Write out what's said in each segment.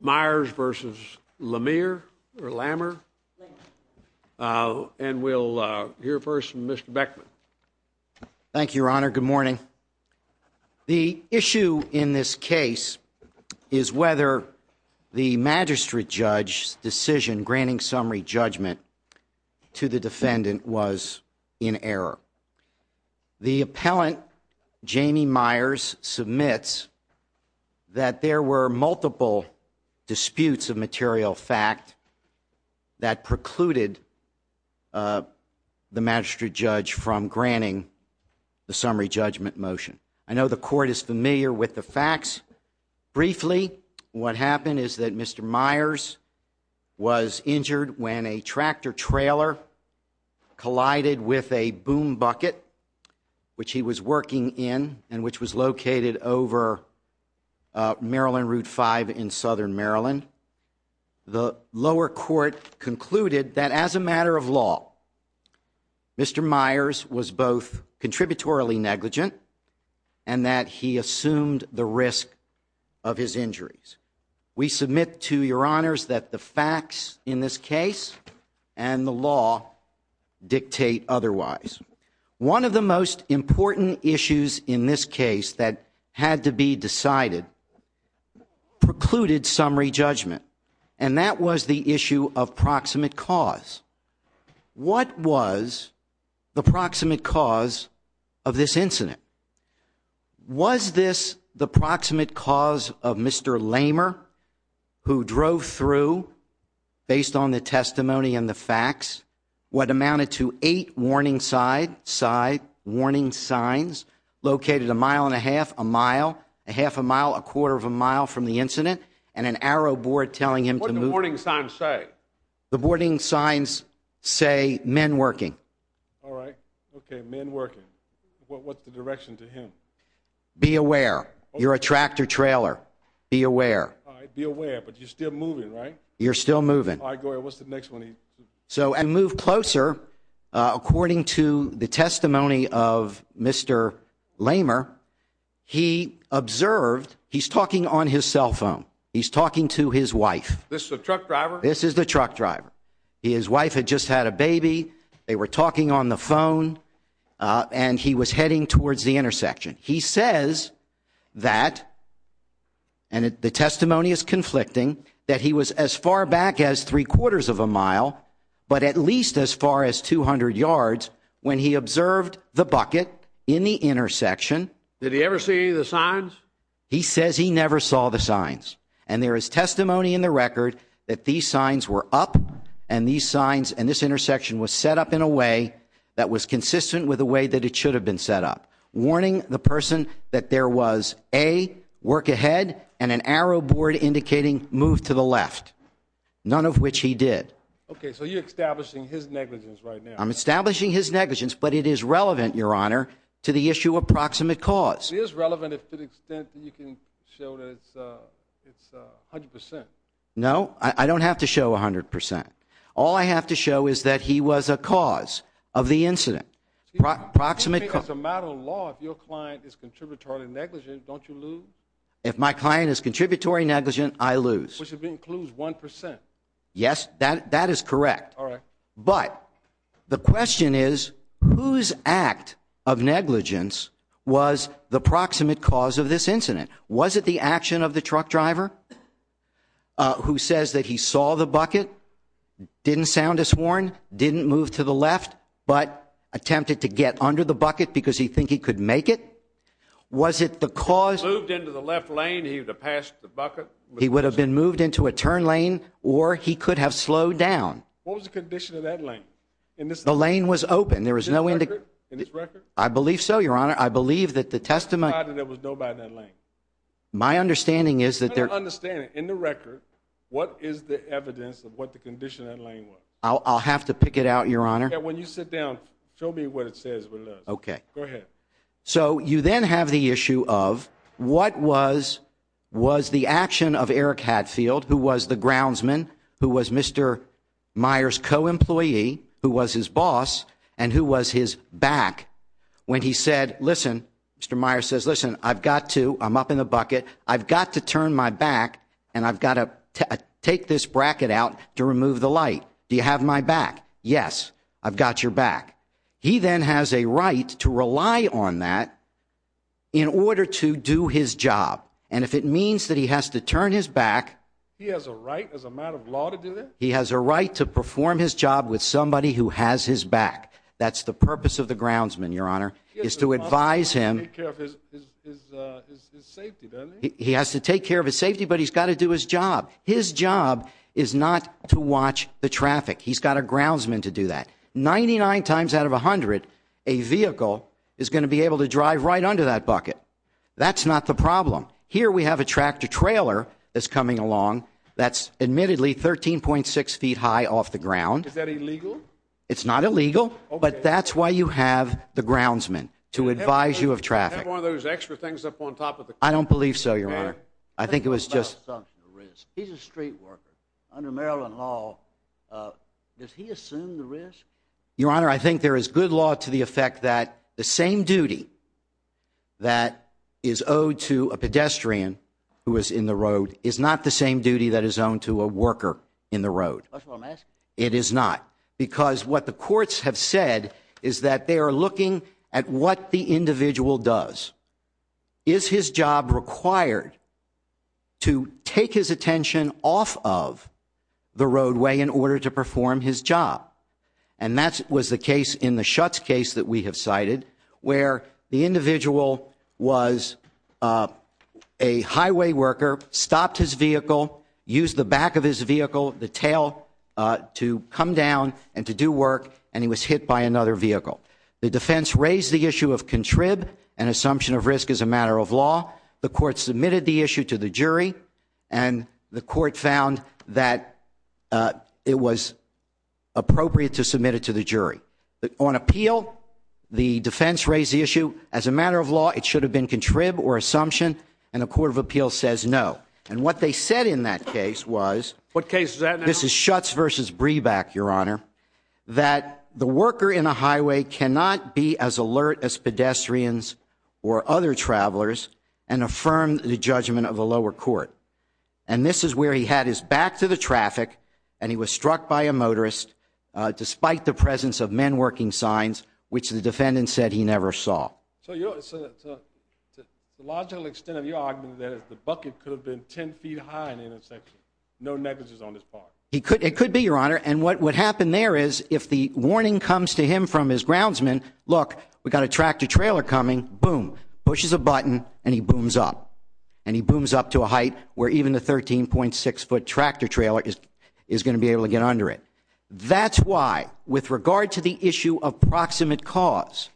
Meyers v. Lamer and we'll hear first from Mr. Beckman. Thank You Your Honor. Good morning. The issue in this case is whether the magistrate judge's decision granting summary judgment to the defendant was in that there were multiple disputes of material fact that precluded the magistrate judge from granting the summary judgment motion. I know the court is familiar with the facts. Briefly what happened is that Mr. Meyers was injured when a tractor-trailer collided with a boom bucket which he was working in and which was located over Maryland Route 5 in Southern Maryland. The lower court concluded that as a matter of law Mr. Meyers was both contributory negligent and that he assumed the risk of his injuries. We submit to Your Honors that the facts in this case and the law dictate otherwise. One of the most important issues in this case that had to be decided precluded summary judgment and that was the issue of proximate cause. What was the proximate cause of this incident? Was this the proximate cause of Mr. Lamer who drove through based on the testimony and the facts? What amounted to eight warning side, side warning signs located a mile and a half, a mile, a half a mile, a quarter of a mile from the incident and an arrow board telling him to move. What did the warning signs say? The warning signs say men working. All right, okay, men working. What's the direction to him? Be aware. You're a tractor-trailer. Be aware. All right, be aware but you're still moving, right? You're still moving. All right, go ahead. What's the next one? So and move closer according to the testimony of Mr. Lamer, he observed he's talking on his cell phone. He's talking to his wife. This is a truck driver? This is the truck driver. His wife had just had a baby. They were talking on the phone and he was heading towards the intersection. He says that and the testimony is conflicting that he was as far back as three quarters of a mile but at least as far as 200 yards when he observed the bucket in the intersection. Did he ever see the signs? He says he never saw the signs and there is testimony in the record that these signs were up and these signs and this intersection was set up in a way that was consistent with the way that it should have been set up. Warning the person that there was a work ahead and an arrow board indicating move to the left. None of which he did. Okay, so you're establishing his negligence right now. I'm establishing his negligence but it is relevant, your honor, to the issue of proximate cause. It is relevant if to the extent that you can show that it's 100%. No, I don't have to show 100%. All I have to show is that he was a cause of the incident. Proximate cause. It's a matter of law, if your client is contributory negligent, don't you lose? If my client is contributory negligent, I lose. Which includes 1%. Yes, that is correct. All right. But the question is whose act of negligence was the proximate cause of this incident? Was it the action of the truck driver who says that he saw the bucket, didn't sound a sworn, didn't move to the left, but attempted to get under the bucket because he think he could make it? Was it the cause? Moved into the left bucket. He would have been moved into a turn lane or he could have slowed down. What was the condition of that lane? The lane was open. There was no indicate. In this record? I believe so, your honor. I believe that the testimony. There was nobody in that lane. My understanding is that there... In the record, what is the evidence of what the condition of that lane was? I'll have to pick it out, your honor. Yeah, when you sit down, show me what it says. Okay. Go ahead. So the action of Eric Hadfield, who was the groundsman, who was Mr. Meyer's co-employee, who was his boss, and who was his back when he said, listen, Mr. Meyer says, listen, I've got to, I'm up in the bucket, I've got to turn my back and I've got to take this bracket out to remove the light. Do you have my back? Yes, I've got your back. He then has a right to rely on that in order to do his job. And if it means that he has to turn his back. He has a right as a matter of law to do that? He has a right to perform his job with somebody who has his back. That's the purpose of the groundsman, your honor, is to advise him. He has to take care of his safety, but he's got to do his job. His job is not to watch the traffic. He's got a groundsman to do that. 99 times out of 100, a vehicle is not the problem. Here we have a tractor-trailer that's coming along that's admittedly 13.6 feet high off the ground. Is that illegal? It's not illegal, but that's why you have the groundsman to advise you of traffic. Do you have one of those extra things up on top of the car? I don't believe so, your honor. I think it was just. He's a street worker. Under Maryland law, does he assume the risk? Your honor, I think there is good law to the effect that the same duty that is owed to a pedestrian who is in the road is not the same duty that is owned to a worker in the road. It is not, because what the courts have said is that they are looking at what the individual does. Is his job required to take his attention off of the roadway in order to perform his job? And that was the case in the Schutz case that we have cited, where the individual was a highway worker, stopped his vehicle, used the back of his vehicle, the tail, to come down and to do work, and he was hit by another vehicle. The defense raised the issue of contrib, an assumption of risk as a matter of law. The court submitted the issue to the jury, and the court found that it was appropriate to submit it to the jury. On appeal, the defense raised the issue as a matter of law, it should have been contrib or assumption, and a court of appeal says no. And what they said in that case was, this is Schutz versus Breback, your honor, that the worker in a highway cannot be as alert as pedestrians or other travelers, and affirmed the judgment of a lower court. And this is where he had his back to the traffic, and he was struck by a motorist, despite the presence of men working signs, which the defendant said he never saw. So the logical extent of your argument is that the bucket could have been 10 feet high in the intersection, no negligence on his part. It could be, your honor, and what would happen there is, if the warning comes to him from his groundsman, look, we got a tractor-trailer coming, boom, pushes a button, and he booms up to a height where even a 13.6-foot tractor-trailer is going to be able to get under it. That's why, with regard to the issue of proximate cause,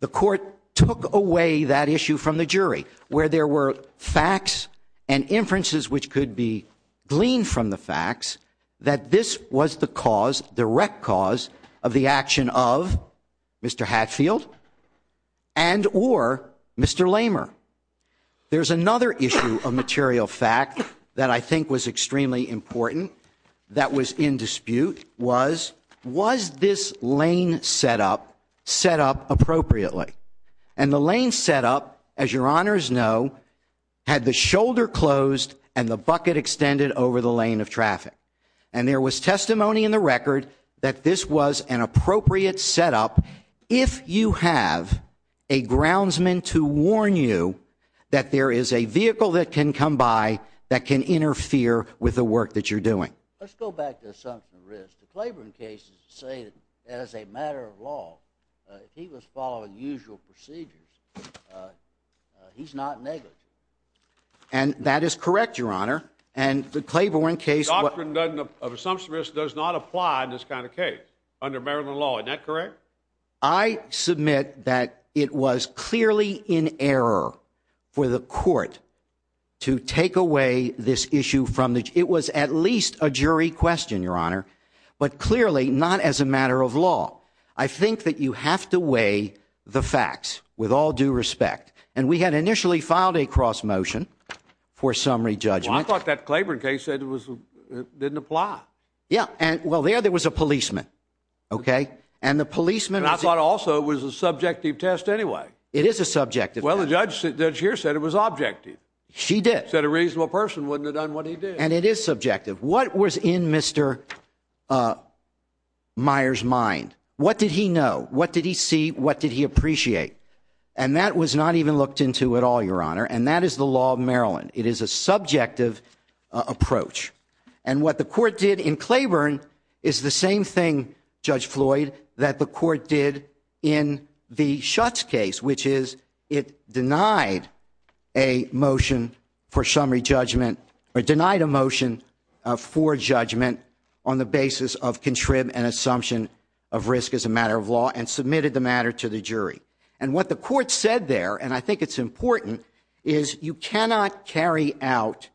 the court took away that issue from the jury, where there were facts and inferences which could be gleaned from the issue of material fact that I think was extremely important that was in dispute was, was this lane setup set up appropriately? And the lane setup, as your honors know, had the shoulder closed and the bucket extended over the lane of traffic. And there was testimony in the record that this was an appropriate setup if you have a groundsman to warn you that there is a vehicle that can come by that can interfere with the work that you're doing. Let's go back to the assumption of risk. The Claiborne case is to say that as a matter of law, if he was following usual procedures, he's not negligent. And that is correct, your honor. And the Claiborne case of assumption of risk does not apply in this kind of case under Maryland law. Is that correct? I submit that it was clearly in error for the court to take away this issue from the, it was at least a jury question, your honor, but it was not a cross motion for summary judgment. I thought that Claiborne case said it was, it didn't apply. Yeah. And well there, there was a policeman. Okay. And the policeman, I thought also it was a subjective test anyway. It is a subjective. Well, the judge said, judge here said it was objective. She did. Said a reasonable person wouldn't have done what he did. And it is subjective. What was in Mr. Meyer's mind? What did he know? What did he see? What did he appreciate? And that was not even looked into at all, your honor. And that is the law of Maryland. It is a subjective approach. And what the court did in Claiborne is the same thing, Judge Floyd, that the court did in the Schutz case, which is it denied a motion for summary judgment or denied a motion for summary judgment on the basis of contrib and assumption of risk as a matter of law and submitted the matter to the jury. And what the court said there, and I think it's important, is you cannot carry out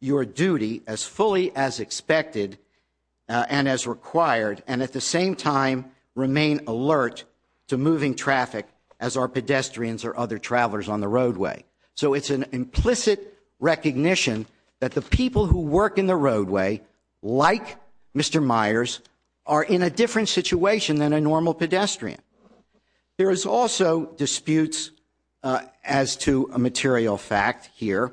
your duty as fully as expected and as required and at the same time remain alert to moving traffic as are pedestrians or other pedestrians. There is also disputes as to a material fact here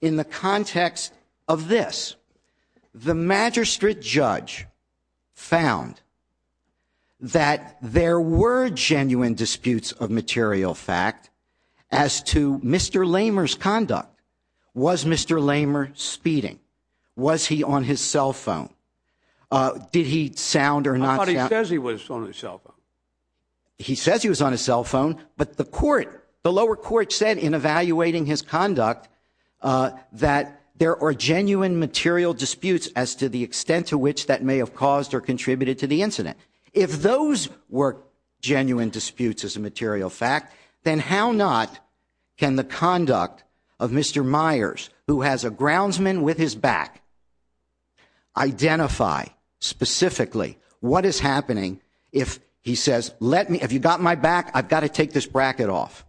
in the context of this. The magistrate judge found that there were genuine disputes of material fact as to Mr. Lamer's conduct. Was Mr. Lamer speeding? Was he on his cell phone? Did he sound or not? I thought he says he was on his cell phone. He says he was on his cell phone, but the court, the lower court said in evaluating his conduct that there are genuine material disputes as to the extent to which that may have caused or contributed to the incident. If those were genuine disputes as a material fact, then how not can the conduct of Mr. Myers, who has a groundsman with his back, identify specifically what is happening if he says, have you got my back? I've got to take this bracket off.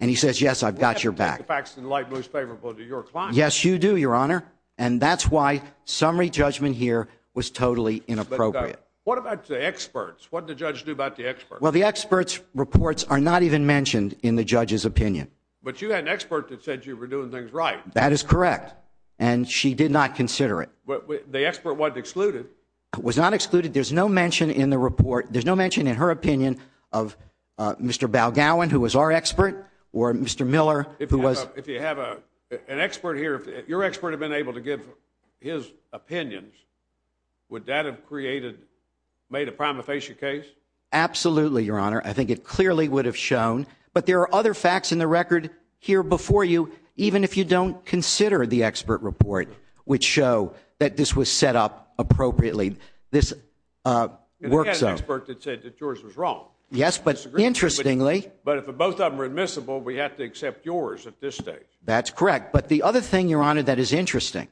And he says, yes, I've got your back. The facts in light most favorable to your client. Yes, you do, Your Honor. And that's why summary judgment here was totally inappropriate. What about the experts? What did the judge do about the experts? Well, the experts reports are not even mentioned in the judge's opinion. But you had an expert that said you were doing things right. That is correct. And she did not consider it. But the expert wasn't excluded. It was not excluded. There's no mention in the report. There's no mention in her opinion of Mr. Balgowin, who was our expert or Mr. Miller, who was our expert. If you have an expert here, if your expert had been able to give his opinions, would that have created, made a prima facie case? Absolutely, Your Honor. I think it clearly would have shown. But there are other facts in the record here before you, even if you don't consider the expert report, which show that this was set up appropriately. This works out. Yes, but interestingly, but if both of them are admissible, we have to accept yours at this stage. That's correct. But the other thing, Your Honor, that is interesting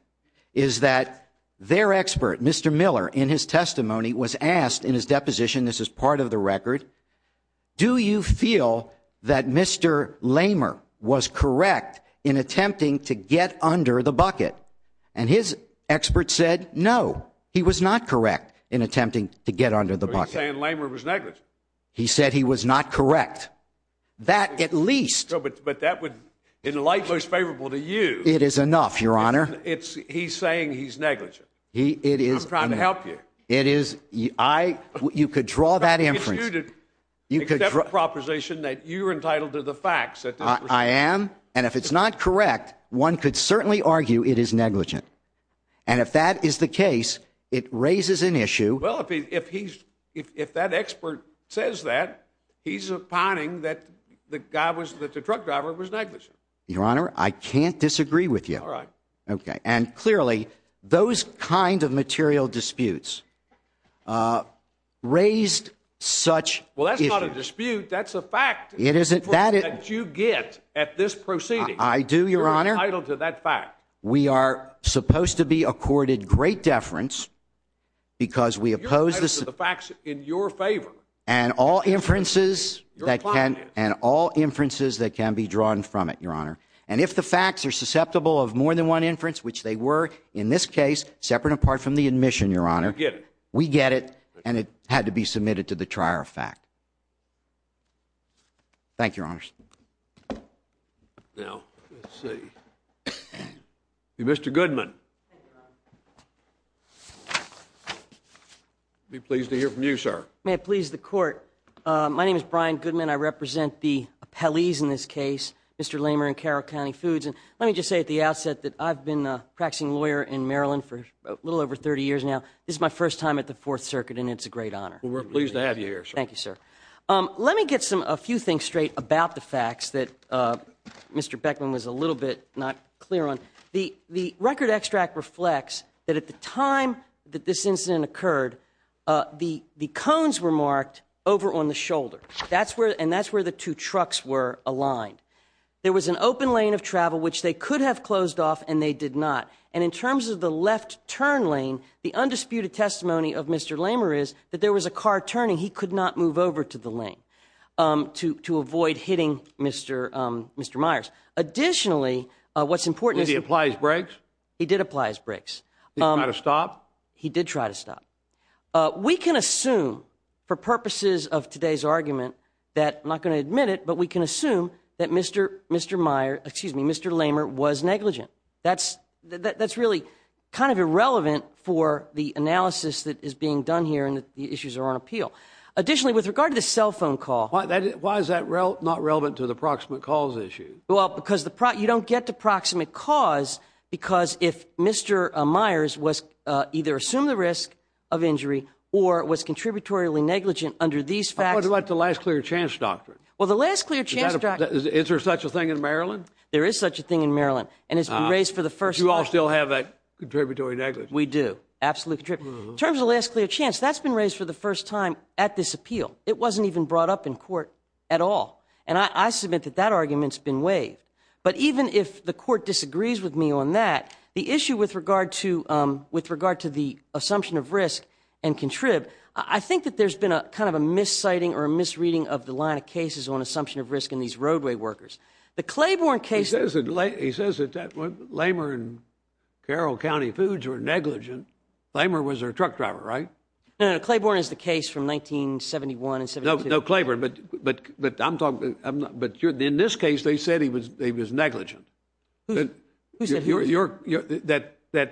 is that their expert, Mr. Miller, in his testimony was asked in his deposition. This is part of the record. Do you feel that Mr. Lamer was correct in attempting to get under the bucket? And his expert said no, he was not correct in attempting to get under the bucket. He was saying Lamer was negligent. He said he was not correct. That, at least. But that would, in light, most favorable to you. It is enough, Your Honor. It's he's saying he's negligent. It is. I'm trying to help you. It is. I, you could draw that inference. You could draw proposition that you're entitled to the facts. I am. And if it's not correct, one could certainly argue it is negligent. And if that is the case, it raises an issue. Well, if he's if that expert says that he's opining that the guy was that the truck driver was negligent. Your Honor, I can't disagree with you. All right. Okay. And clearly, those kind of material disputes raised such. Well, that's not a dispute. That's a fact. It isn't that you get at this proceeding. I do, Your Honor. I don't do that fact. We are supposed to be accorded great deference because we oppose the facts in your favor and all inferences that can and all inferences that can be drawn from it, Your Honor. And if the facts are susceptible of more than one inference, which they were in this case, separate apart from the admission, Your Honor, we get it. And it had to be submitted to the trier fact. Thank you, Your Honors. Now, let's see. Mr. Goodman. Be pleased to hear from you, sir. May it please the court. My name is Brian Goodman. I represent the appellees in this case, Mr. Lamer and Carroll County Foods. And let me just say at the outset that I've been a practicing lawyer in Maryland for a little over 30 years now. This is my first time at the Fourth Circuit, and it's a great honor. We're pleased to have you here. Thank you, sir. Let me get some a few things straight about the facts that Mr. Beckman was a little bit not clear on. The record extract reflects that at the time that this incident occurred, the cones were marked over on the shoulder. And that's where the two trucks were aligned. There was an open lane of travel which they could have closed off and they did not. And in terms of the left turn lane, the undisputed testimony of Mr. Lamer is that there was a car turning. He could not move over to the lane to avoid hitting Mr. Myers. Additionally, what's important is- Did he apply his brakes? He did apply his brakes. Did he try to stop? He did try to stop. We can assume for purposes of today's argument that, I'm not going to admit it, but we can assume that Mr. Lamer was negligent. That's really kind of irrelevant for the analysis that is being done here and the issues are on appeal. Additionally, with regard to the cell phone call- Why is that not relevant to the proximate calls issue? Well, because you don't get to proximate cause because if Mr. Myers either assumed the risk of injury or was contributory negligent under these facts- What about the last clear chance doctrine? Well, the last clear chance doctrine- Is there such a thing in Maryland? There is such a thing in Maryland. And it's been raised for the first time- Do you all still have that contributory negligence? We do. Absolutely. In terms of last clear chance, that's been raised for the first time at this appeal. It wasn't even brought up in court at all. And I submit that that argument's been waived. But even if the court disagrees with me on that, the issue with regard to the assumption of risk and contrib, I think that there's been a kind of a misciting or a misreading of the line of cases on assumption of risk in these roadway workers. The Claiborne case- He says that Lamer and Carroll County Foods were negligent. Lamer was their truck driver, right? No, no. Claiborne is the case from 1971 and 72. No, Claiborne. But in this case, they said he was negligent. That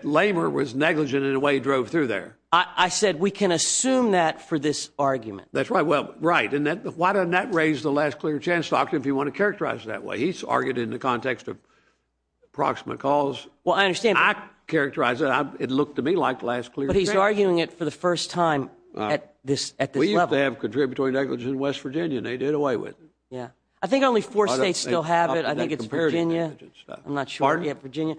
Lamer was negligent in the way he drove through there. I said we can assume that for this argument. That's right. Well, right. And why doesn't that raise the last clear chance doctrine if you want to characterize it that way? He's argued in the context of proximate cause. Well, I understand. I characterize it. It looked to me like last clear chance. But he's arguing it for the first time at this level. We used to have contributory negligence in West Virginia, and they did away with it. Yeah. I think only four states still have it. I think it's Virginia. I'm not sure. Pardon? Yeah, Virginia.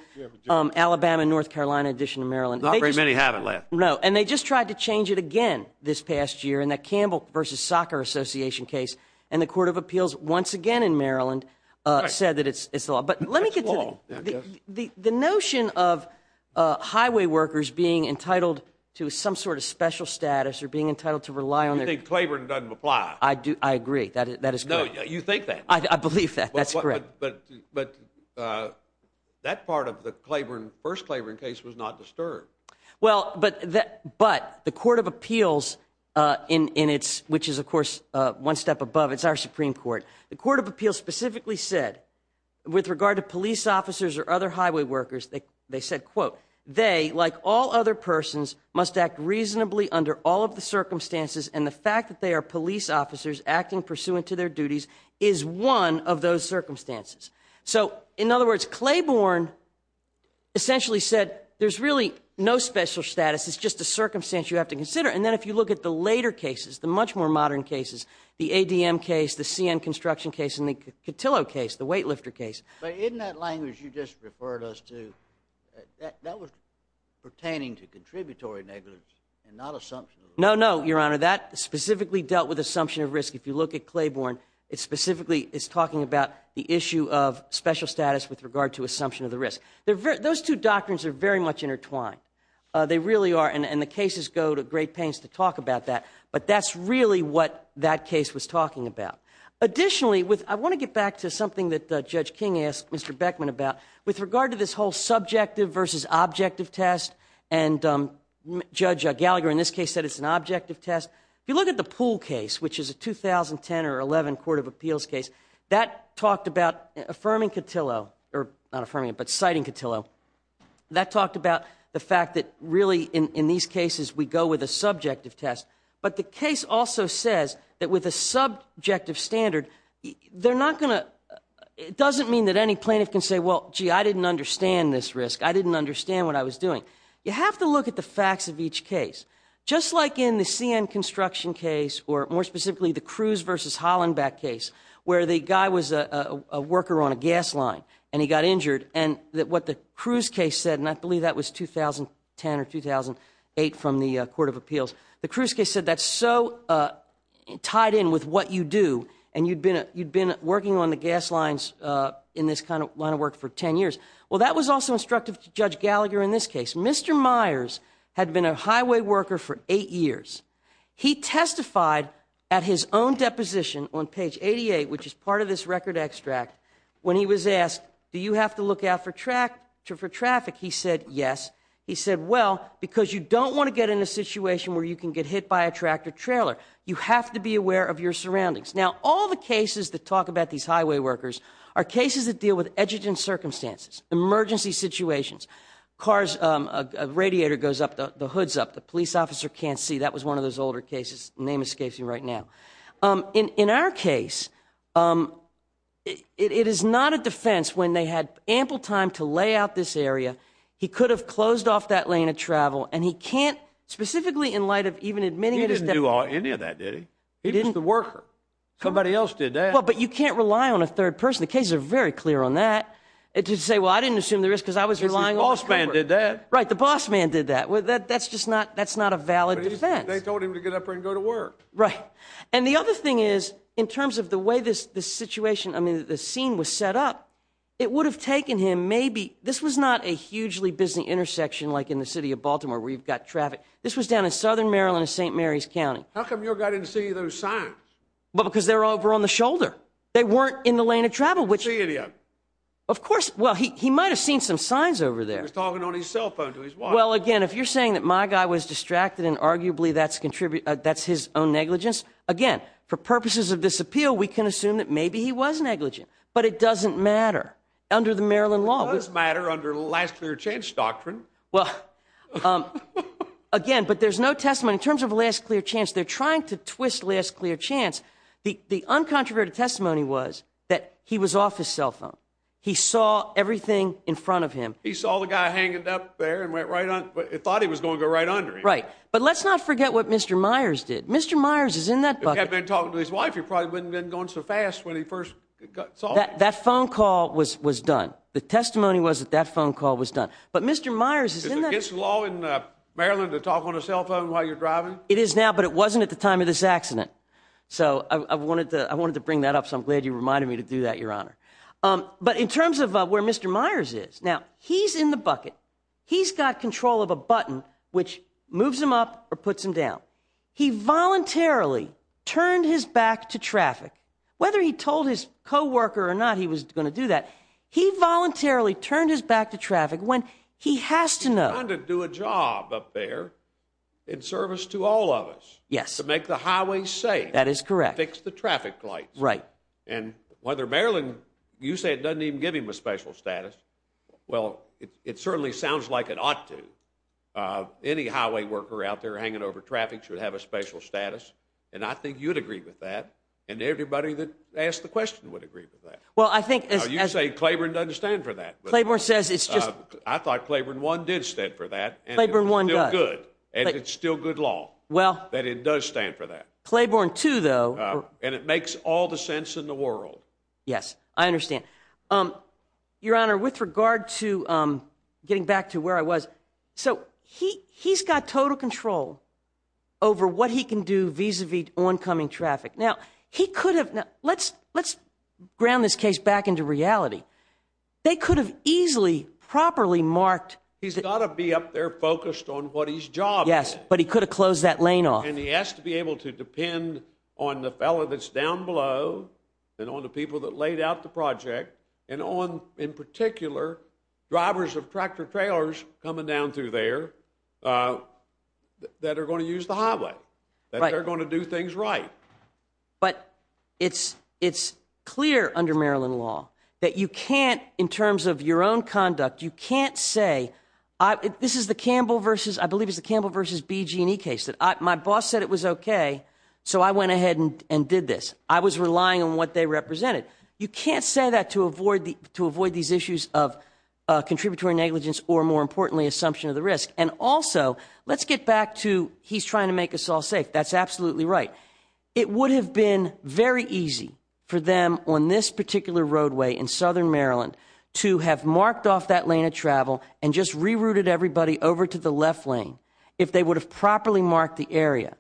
Alabama, North Carolina, addition to Maryland. Not very many have it left. No. And they just tried to change it again this past year. In that Campbell versus Soccer Association case. And the Court of Appeals once again in Maryland said that it's the law. But let me get to the notion of highway workers being entitled to some sort of special status or being entitled to rely on their... You think Claiborne doesn't apply. I do. I agree. That is correct. No, you think that. I believe that. That's correct. But that part of the Claiborne, first Claiborne case was not disturbed. Well, but the Court of Appeals, which is, of course, one step above. It's our Supreme Court. The Court of Appeals specifically said with regard to police officers or other highway workers, they said, quote, they, like all other persons, must act reasonably under all of the circumstances. And the fact that they are police officers acting pursuant to their duties is one of those circumstances. So, in other words, Claiborne essentially said there's really no special status. It's just a circumstance you have to consider. And then if you look at the later cases, the much more modern cases, the ADM case, the CN construction case, and the Cotillo case, the weightlifter case. But in that language you just referred us to, that was pertaining to contributory negligence and not assumption of risk. No, no, Your Honor. That specifically dealt with assumption of risk. If you look at Claiborne, it specifically is talking about the issue of special status with regard to assumption of the risk. Those two doctrines are very much intertwined. They really are. And the cases go to great pains to talk about that. But that's really what that case was talking about. Additionally, I want to get back to something that Judge King asked Mr. Beckman about with regard to this whole subjective versus objective test. And Judge Gallagher in this case said it's an objective test. If you look at the Pool case, which is a 2010 or 11 court of appeals case, that talked about affirming Cotillo, or not affirming it, but citing Cotillo, that talked about the fact that really in these cases we go with a subjective test. But the case also says that with a subjective standard, they're not going to, it doesn't mean that any plaintiff can say, well, gee, I didn't understand this risk. I didn't understand what I was doing. You have to look at the facts of each case. Just like in the CN construction case, or more specifically the Cruz versus Hollenbeck case, where the guy was a worker on a gas line and he got injured. And what the Cruz case said, and I believe that was 2010 or 2008 from the court of appeals, the Cruz case said that's so tied in with what you do and you'd been working on the gas lines in this kind of line of work for 10 years. Well, that was also instructive to Judge Gallagher in this case. Mr. Myers had been a highway worker for eight years. He testified at his own deposition on page 88, which is part of this record extract, when he was asked, do you have to look out for traffic? He said, yes. He said, well, because you don't want to get in a situation where you can get hit by a tractor trailer. You have to be aware of your surroundings. Now, all the cases that talk about these highway workers are cases that deal with edging circumstances, emergency situations, cars, a radiator goes up, the hood's up, the police officer can't see. That was one of those older cases. Name escapes me right now. In our case, it is not a defense. When they had ample time to lay out this area, he could have closed off that lane of travel and he can't, specifically in light of even admitting that he's- He didn't do any of that, did he? He was the worker. Somebody else did that. Well, but you can't rely on a third person. The cases are very clear on that. And to say, well, I didn't assume the risk because I was relying on- The boss man did that. Right. The boss man did that. Well, that's just not, that's not a valid defense. They told him to get up and go to work. Right. And the other thing is, in terms of the way this situation, I mean, the scene was set up, it would have taken him maybe, this was not a hugely busy intersection like in the city of Baltimore where you've got traffic. This was down in Southern Maryland, St. Mary's County. How come your guy didn't see those signs? Well, because they're over on the shoulder. They weren't in the lane of travel, which- He didn't see any of them. Of course. Well, he might've seen some signs over there. He was talking on his cell phone to his wife. Well, again, if you're saying that my guy was distracted and arguably that's his own negligence, again, for purposes of this appeal, we can assume that maybe he was negligent, but it doesn't matter under the Maryland law. It does matter under last clear chance doctrine. Well, again, but there's no testimony in terms of last clear chance. They're trying to twist last clear chance. The uncontroverted testimony was that he was off his cell phone. He saw everything in front of him. He saw the guy hanging up there and went right on, but he thought he was going to go right under him. Right. But let's not forget what Mr. Myers did. Mr. Myers is in that bucket. If he had been talking to his wife, he probably wouldn't have been going so fast when he first saw him. That phone call was done. The testimony was that that phone call was done. But Mr. Myers is in that- Is it against the law in Maryland to talk on a cell phone while you're driving? It is now, but it wasn't at the time of this accident. So I wanted to bring that up. So I'm glad you reminded me to do that, Your Honor. But in terms of where Mr. Myers is now, he's in the bucket. He's got control of a button which moves him up or puts him down. He voluntarily turned his back to traffic. Whether he told his coworker or not, he was going to do that. He voluntarily turned his back to traffic when he has to know- He's trying to do a job up there in service to all of us. Yes. Make the highway safe. That is correct. Fix the traffic lights. Right. And whether Maryland, you say it doesn't even give him a special status. Well, it certainly sounds like it ought to. Any highway worker out there hanging over traffic should have a special status. And I think you'd agree with that. And everybody that asked the question would agree with that. Well, I think- You say Claiborne doesn't stand for that. Claiborne says it's just- I thought Claiborne 1 did stand for that. Claiborne 1 does. And it's still good law. Well- That it does stand for that. Claiborne 2, though- And it makes all the sense in the world. Yes. I understand. Your Honor, with regard to getting back to where I was. So he's got total control over what he can do vis-a-vis oncoming traffic. Now, he could have- Let's ground this case back into reality. They could have easily, properly marked- He's got to be up there focused on what his job is. Yes. But he could have closed that lane off. And he has to be able to depend on the fellow that's down below and on the people that laid out the project. And on, in particular, drivers of tractor-trailers coming down through there that are going to use the highway. That they're going to do things right. But it's clear under Maryland law that you can't- In terms of your own conduct, you can't say- This is the Campbell versus- I believe it's the Campbell versus BG&E case. My boss said it was okay, so I went ahead and did this. I was relying on what they represented. You can't say that to avoid these issues of contributory negligence or, more importantly, assumption of the risk. And also, let's get back to he's trying to make us all safe. That's absolutely right. It would have been very easy for them on this particular roadway in Southern Maryland to have marked off that lane of travel and just rerouted everybody over to the left lane if they would have properly marked the area.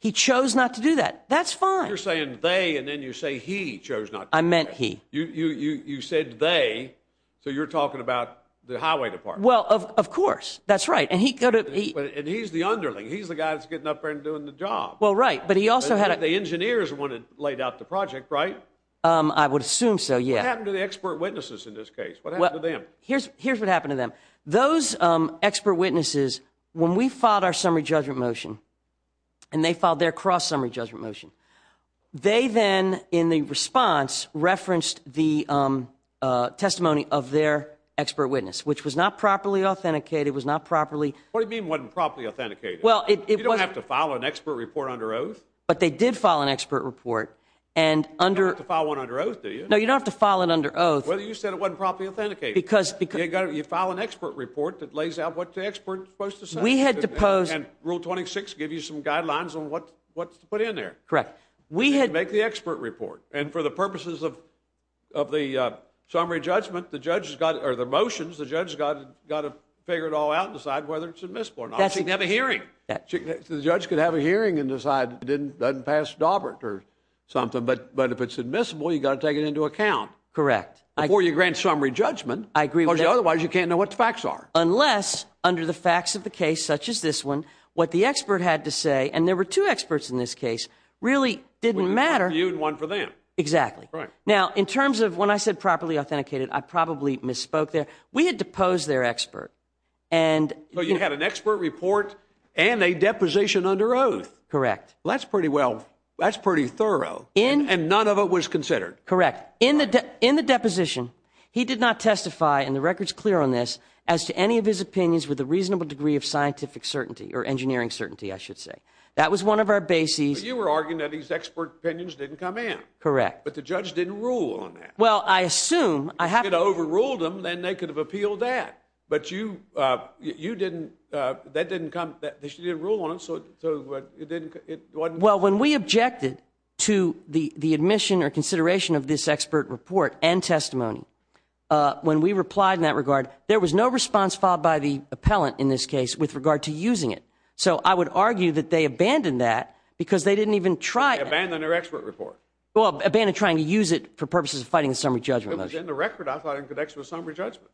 He chose not to do that. That's fine. You're saying they, and then you say he chose not to do that. I meant he. You said they, so you're talking about the highway department. Well, of course. That's right. And he could have- And he's the underling. He's the guy that's getting up there and doing the job. Well, right. But he also had- The engineers are the one that laid out the project, right? I would assume so, yeah. What happened to the expert witnesses in this case? What happened to them? Here's what happened to them. Those expert witnesses, when we filed our summary judgment motion, and they filed their cross-summary judgment motion, they then, in the response, referenced the testimony of their expert witness, which was not properly authenticated. It was not properly- What do you mean it wasn't properly authenticated? Well, it was- You don't have to file an expert report under oath. But they did file an expert report, and under- You don't have to file one under oath, do you? No, you don't have to file it under oath. Well, you said it wasn't properly authenticated. You file an expert report that lays out what the expert is supposed to say. We had to pose- And Rule 26 gives you some guidelines on what's to put in there. Correct. We had- You make the expert report. And for the purposes of the summary judgment, the judge has got- Or the motions, the judge has got to figure it all out and decide whether it's admissible or not. She can have a hearing. The judge could have a hearing and decide it doesn't pass Dobert or something. But if it's admissible, you've got to take it into account. Correct. Before you grant summary judgment. I agree with that. Otherwise, you can't know what the facts are. Unless, under the facts of the case, such as this one, what the expert had to say, and there were two experts in this case, really didn't matter- We reviewed one for them. Exactly. Right. Now, in terms of when I said properly authenticated, I probably misspoke there. We had to pose their expert. And- So you had an expert report and a deposition under oath. Correct. Well, that's pretty well- That's pretty thorough. And none of it was considered. Correct. In the deposition, he did not testify, and the record's clear on this, as to any of his opinions with a reasonable degree of scientific certainty, or engineering certainty, I should say. That was one of our bases- You were arguing that these expert opinions didn't come in. Correct. But the judge didn't rule on that. Well, I assume- If it overruled them, then they could have appealed that. But you didn't- That didn't come- She didn't rule on it, so it didn't- Well, when we objected to the admission or consideration of this expert report and testimony, when we replied in that regard, there was no response filed by the appellant in this case with regard to using it. So I would argue that they abandoned that because they didn't even try- Abandoned their expert report. Well, abandoned trying to use it for purposes of fighting the summary judgment. It was in the record, I thought, in connection with summary judgment.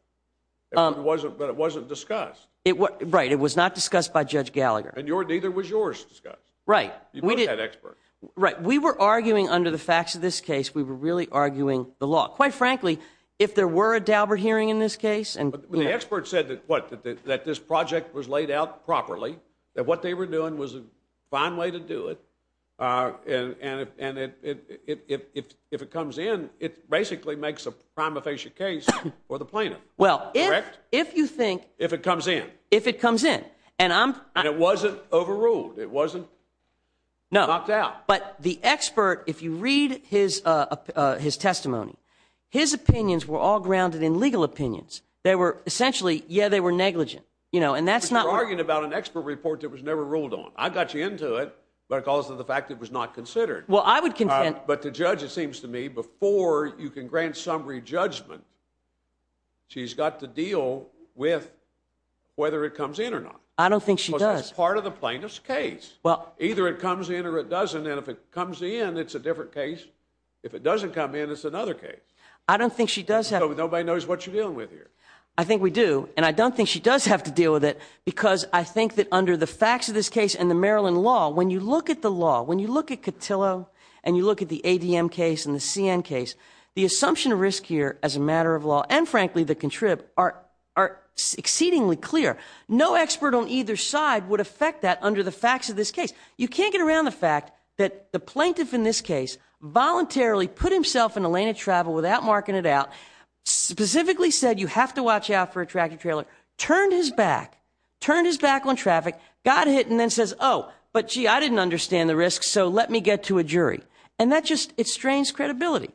But it wasn't discussed. Right. It was not discussed by Judge Gallagher. And neither was yours discussed. Right. That expert. Right. We were arguing under the facts of this case, we were really arguing the law. Quite frankly, if there were a Daubert hearing in this case- But the expert said that what? That this project was laid out properly. That what they were doing was a fine way to do it. If it comes in, it basically makes a prima facie case for the plaintiff. Well, if you think- If it comes in. If it comes in. And I'm- It wasn't overruled. It wasn't- No. Knocked out. But the expert, if you read his testimony, his opinions were all grounded in legal opinions. They were essentially, yeah, they were negligent. You know, and that's not- You're arguing about an expert report that was never ruled on. I got you into it, but because of the fact it was not considered. Well, I would contend- But the judge, it seems to me, before you can grant summary judgment, she's got to deal with whether it comes in or not. I don't think she does. It's part of the plaintiff's case. Either it comes in or it doesn't, and if it comes in, it's a different case. If it doesn't come in, it's another case. I don't think she does have- Nobody knows what you're dealing with here. I think we do, and I don't think she does have to deal with it, because I think that under the facts of this case and the Maryland law, when you look at the law, when you look at Cotillo, and you look at the ADM case and the CN case, the assumption of risk here as a matter of law, and frankly, the contrib, are exceedingly clear. No expert on either side would affect that under the facts of this case. You can't get around the fact that the plaintiff in this case voluntarily put himself in a lane of travel without marking it out, specifically said, you have to watch out for a tractor trailer, turned his back, turned his back on traffic, got hit, and then says, oh, but gee, I didn't understand the risks, so let me get to a jury. And that just, it strains credibility.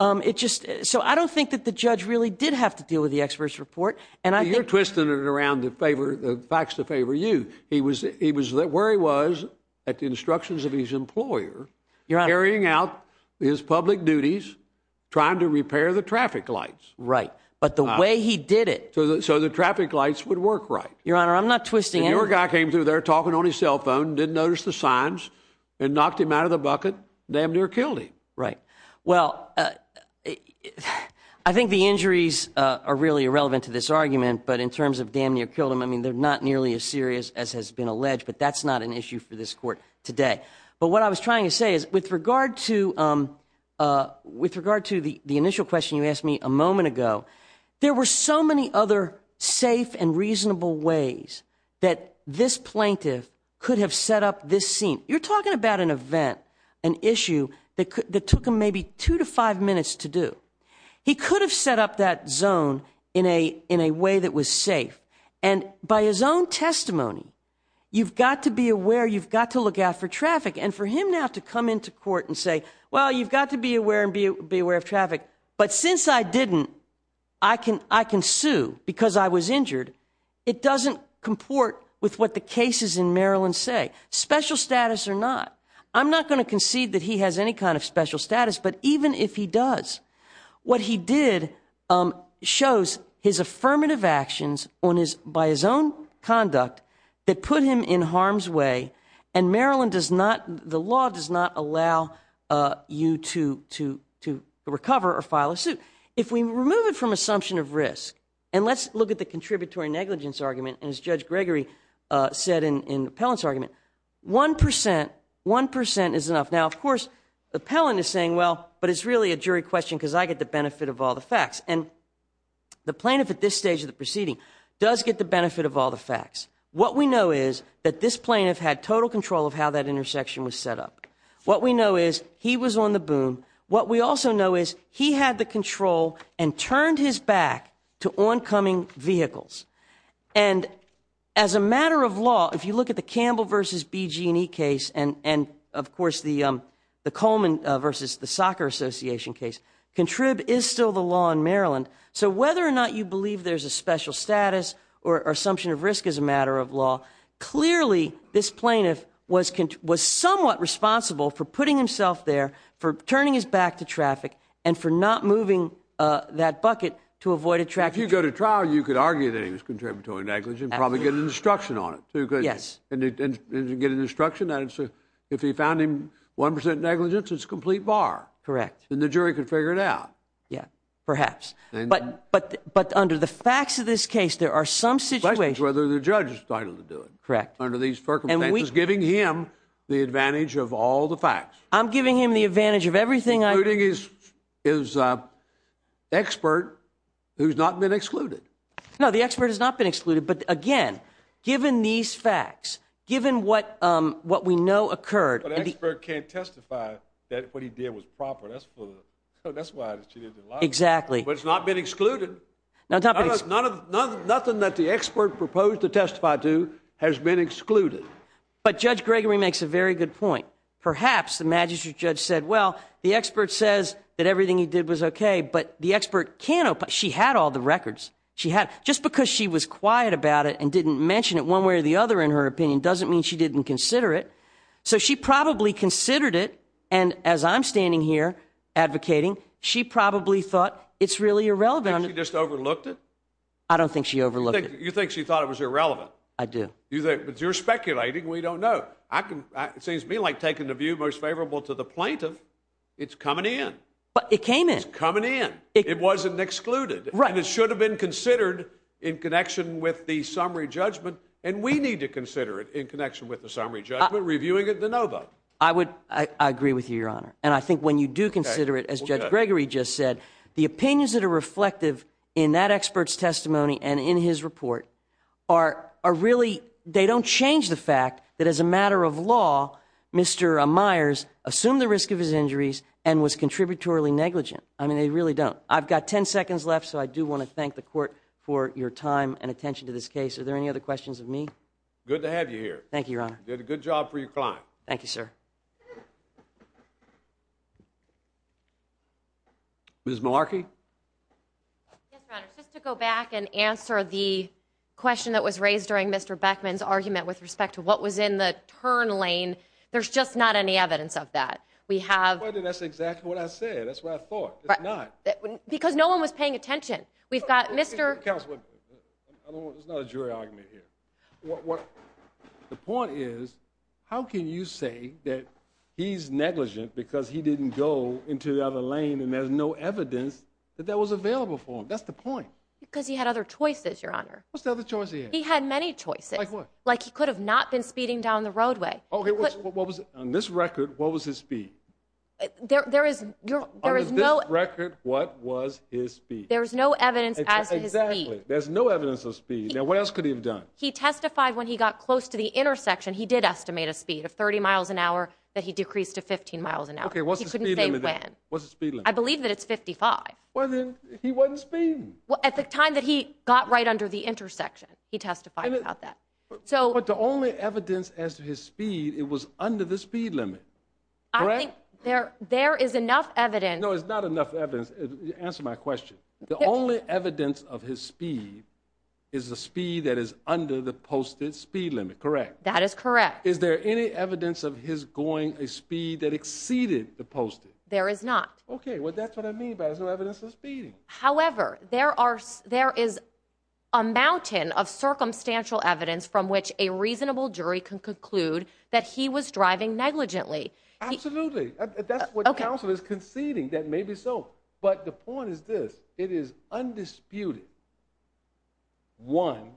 So I don't think that the judge really did have to deal with the expert's report. You're twisting it around to favor, the facts to favor you. He was where he was at the instructions of his employer, carrying out his public duties, trying to repair the traffic lights. Right. But the way he did it. So the traffic lights would work right. Your Honor, I'm not twisting anything. Your guy came through there talking on his cell phone, didn't notice the signs, and knocked him out of the bucket, damn near killed him. Right. Well, I think the injuries are really irrelevant to this. But in terms of damn near killed him, I mean, they're not nearly as serious as has been alleged, but that's not an issue for this court today. But what I was trying to say is with regard to, with regard to the initial question you asked me a moment ago, there were so many other safe and reasonable ways that this plaintiff could have set up this scene. You're talking about an event, an issue that took him maybe two to five minutes to do. He could have set up that zone in a way that was safe. And by his own testimony, you've got to be aware, you've got to look out for traffic. And for him now to come into court and say, well, you've got to be aware and be aware of traffic. But since I didn't, I can sue because I was injured. It doesn't comport with what the cases in Maryland say. Special status or not. I'm not going to concede that he has any kind of special status. But even if he does, what he did shows his affirmative actions on his, by his own conduct, that put him in harm's way. And Maryland does not, the law does not allow you to, to, to recover or file a suit. If we remove it from assumption of risk, and let's look at the contributory negligence argument, as Judge Gregory said in Pellin's argument, one percent, one percent is enough. Now, of course, the Pellin is saying, well, but it's really a jury question because I get the benefit of all the facts. And the plaintiff at this stage of the proceeding does get the benefit of all the facts. What we know is that this plaintiff had total control of how that intersection was set up. What we know is he was on the boom. What we also know is he had the control and turned his back to oncoming vehicles. And as a matter of law, if you look at the Campbell versus BG&E case, and of course, the Coleman versus the Soccer Association case, contrib is still the law in Maryland. So whether or not you believe there's a special status or assumption of risk as a matter of law, clearly, this plaintiff was somewhat responsible for putting himself there, for turning his back to traffic, and for not moving that bucket to avoid attraction. If you go to trial, you could argue that he was contributory negligence and probably get an instruction on it. And if you get an instruction, if you found him 1% negligence, it's a complete bar. Correct. And the jury could figure it out. Yeah, perhaps. But under the facts of this case, there are some situations... Whether the judge is entitled to do it. Correct. Under these circumstances, giving him the advantage of all the facts. I'm giving him the advantage of everything I... Including his expert who's not been excluded. No, the expert has not been excluded. But again, given these facts, given what we know occurred... But the expert can't testify that what he did was proper. That's why she didn't allow it. Exactly. But it's not been excluded. Nothing that the expert proposed to testify to has been excluded. But Judge Gregory makes a very good point. Perhaps the magistrate judge said, well, the expert says that everything he did was okay, but the expert can't... She had all the records. Just because she was quiet about it and didn't mention it one way or the other in her opinion, doesn't mean she didn't consider it. So she probably considered it. And as I'm standing here advocating, she probably thought it's really irrelevant. Did she just overlooked it? I don't think she overlooked it. You think she thought it was irrelevant? I do. But you're speculating. We don't know. It seems to me like taking the view most favorable to the plaintiff, it's coming in. But it came in. It's coming in. It wasn't excluded. And it should have been considered in connection with the summary judgment. And we need to consider it in connection with the summary judgment, reviewing it in the no vote. I agree with you, Your Honor. And I think when you do consider it, as Judge Gregory just said, the opinions that are reflective in that expert's testimony and in his report are really... They don't change the fact that as a matter of law, Mr. Myers assumed the risk of his injuries and was contributory negligent. I mean, they really don't. I've got 10 seconds left. So I do want to thank the court for your time and attention to this case. Are there any other questions of me? Good to have you here. Thank you, Your Honor. You did a good job for your client. Thank you, sir. Ms. Malarkey? Yes, Your Honor. Just to go back and answer the question that was raised during Mr. Beckman's argument with respect to what was in the turn lane. There's just not any evidence of that. We have... That's exactly what I said. That's what I thought. It's not. Because no one was paying attention. We've got Mr... Counselor, there's not a jury argument here. The point is, how can you say that he's negligent because he didn't go into the other lane and there's no evidence that that was available for him? That's the point. Because he had other choices, Your Honor. What's the other choice he had? He had many choices. Like what? Like he could have not been speeding down the roadway. Okay, what was... On this record, what was his speed? There is no... What was his speed? There's no evidence as to his speed. There's no evidence of speed. Now, what else could he have done? He testified when he got close to the intersection, he did estimate a speed of 30 miles an hour that he decreased to 15 miles an hour. Okay, what's the speed limit then? What's the speed limit? I believe that it's 55. Well, then he wasn't speeding. At the time that he got right under the intersection, he testified about that. So... But the only evidence as to his speed, it was under the speed limit. I think there is enough evidence... No, it's not enough evidence. Answer my question. The only evidence of his speed is the speed that is under the posted speed limit, correct? That is correct. Is there any evidence of his going a speed that exceeded the posted? There is not. Okay, well, that's what I mean by there's no evidence of speeding. However, there is a mountain of circumstantial evidence from which a reasonable jury can conclude that he was driving negligently. Absolutely. That's what counsel is conceding, that maybe so. But the point is this, it is undisputed. One,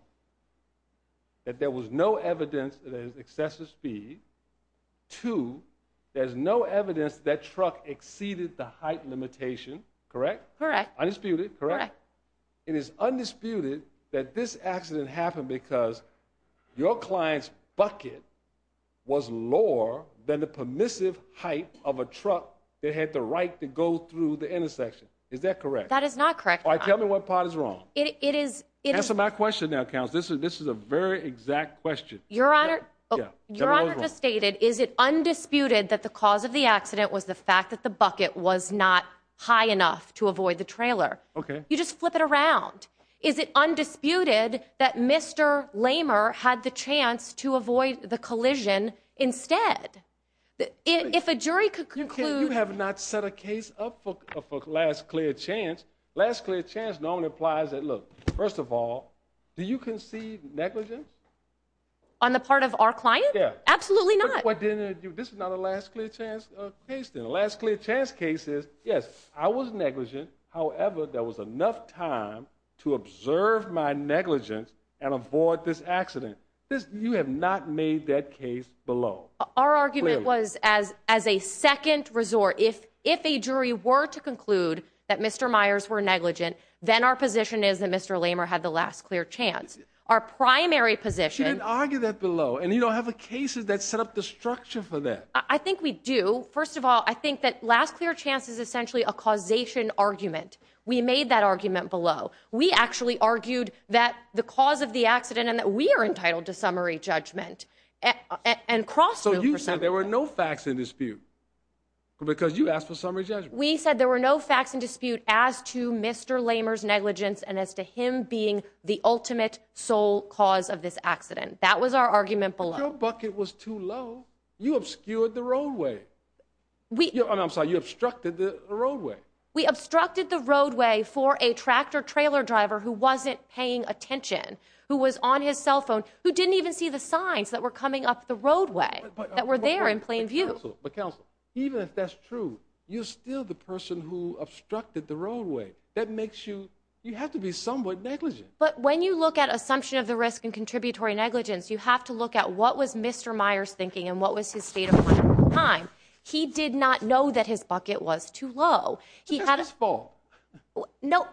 that there was no evidence of excessive speed. Two, there's no evidence that truck exceeded the height limitation, correct? Correct. Undisputed, correct? It is undisputed that this accident happened because your client's bucket was lower than the permissive height of a truck that had the right to go through the intersection. Is that correct? That is not correct. All right, tell me what part is wrong. It is... Answer my question now, counsel. This is a very exact question. Your Honor, your Honor just stated, is it undisputed that the cause of the accident was the fact that the bucket was not high enough to avoid the trailer? Okay. You just flip it around. Is it undisputed that Mr. Lamer had the chance to avoid the collision instead? If a jury could conclude... You have not set a case up for last clear chance. Last clear chance normally implies that, look, first of all, do you concede negligence? On the part of our client? Yeah. Absolutely not. But then this is not a last clear chance case then. Last clear chance case is, yes, I was negligent. However, there was enough time to observe my negligence and avoid this accident. You have not made that case below. Our argument was as a second resort, if a jury were to conclude that Mr. Myers were negligent, then our position is that Mr. Lamer had the last clear chance. Our primary position... She didn't argue that below. And you don't have a case that set up the structure for that. I think we do. First of all, I think that last clear chance is essentially a causation argument. We made that argument below. We actually argued that the cause of the accident and that we are entitled to summary judgment and cross... So you said there were no facts in dispute because you asked for summary judgment. We said there were no facts in dispute as to Mr. Lamer's negligence and as to him being the ultimate sole cause of this accident. That was our argument below. But your bucket was too low. You obscured the roadway. And I'm sorry, you obstructed the roadway. We obstructed the roadway for a tractor trailer driver who wasn't paying attention, who was on his cell phone, who didn't even see the signs that were coming up the roadway that were there in plain view. But counsel, even if that's true, you're still the person who obstructed the roadway. That makes you... You have to be somewhat negligent. But when you look at assumption of the risk and contributory negligence, you have to look at what was Mr. Myers thinking and what was his state of mind at the time. He did not know that his bucket was too low. It's not his fault. No,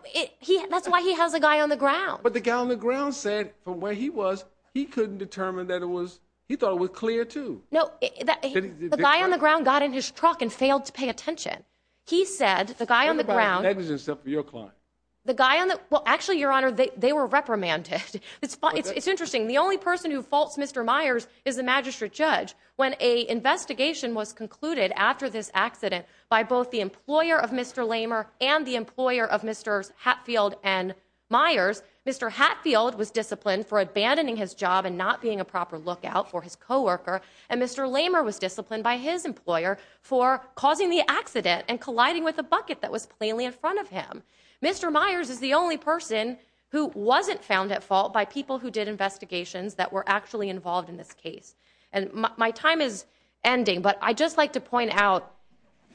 that's why he has a guy on the ground. But the guy on the ground said from where he was, he couldn't determine that it was... He thought it was clear too. No, the guy on the ground got in his truck and failed to pay attention. He said, the guy on the ground... What about negligence of your client? The guy on the... Well, actually, Your Honor, they were reprimanded. It's interesting. The only person who faults Mr. Myers is the magistrate judge. When a investigation was concluded after this accident by both the employer of Mr. Myers, Mr. Hatfield was disciplined for abandoning his job and not being a proper lookout for his coworker. And Mr. Lamer was disciplined by his employer for causing the accident and colliding with a bucket that was plainly in front of him. Mr. Myers is the only person who wasn't found at fault by people who did investigations that were actually involved in this case. And my time is ending. But I'd just like to point out,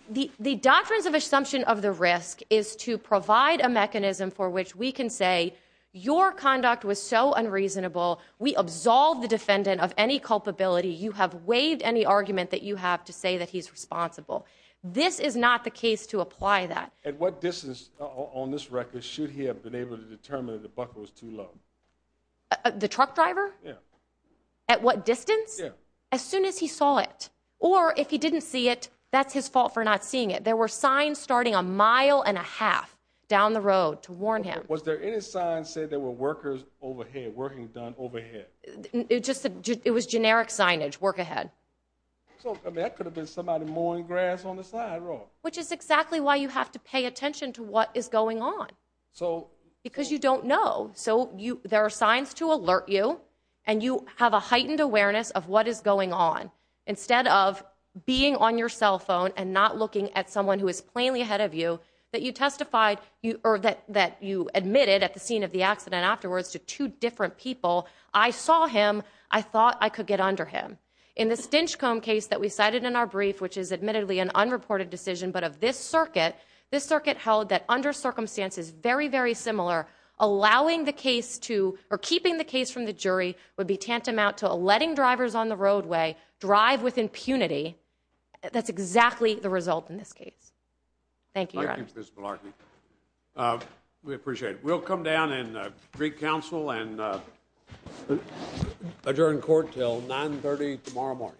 the doctrines of assumption of the risk is to provide a your conduct was so unreasonable, we absolved the defendant of any culpability. You have waived any argument that you have to say that he's responsible. This is not the case to apply that. At what distance on this record should he have been able to determine that the bucket was too low? The truck driver? Yeah. At what distance? Yeah. As soon as he saw it. Or if he didn't see it, that's his fault for not seeing it. There were signs starting a mile and a half down the road to warn him. Was there any sign said there were workers overhead, working done overhead? It was generic signage, work ahead. So that could have been somebody mowing grass on the side road. Which is exactly why you have to pay attention to what is going on. So. Because you don't know. So there are signs to alert you. And you have a heightened awareness of what is going on. Instead of being on your cell phone and not looking at someone who is plainly ahead of you, that you testified, or that you admitted at the scene of the accident afterwards to two different people. I saw him. I thought I could get under him. In the Stinchcomb case that we cited in our brief, which is admittedly an unreported decision, but of this circuit, this circuit held that under circumstances very, very similar, allowing the case to, or keeping the case from the jury would be tantamount to letting drivers on the roadway drive with impunity. That's exactly the result in this case. Thank you, Your Honor. Thank you, Ms. Malarkey. We appreciate it. We'll come down in Greek Council and adjourn court until 9.30 tomorrow morning.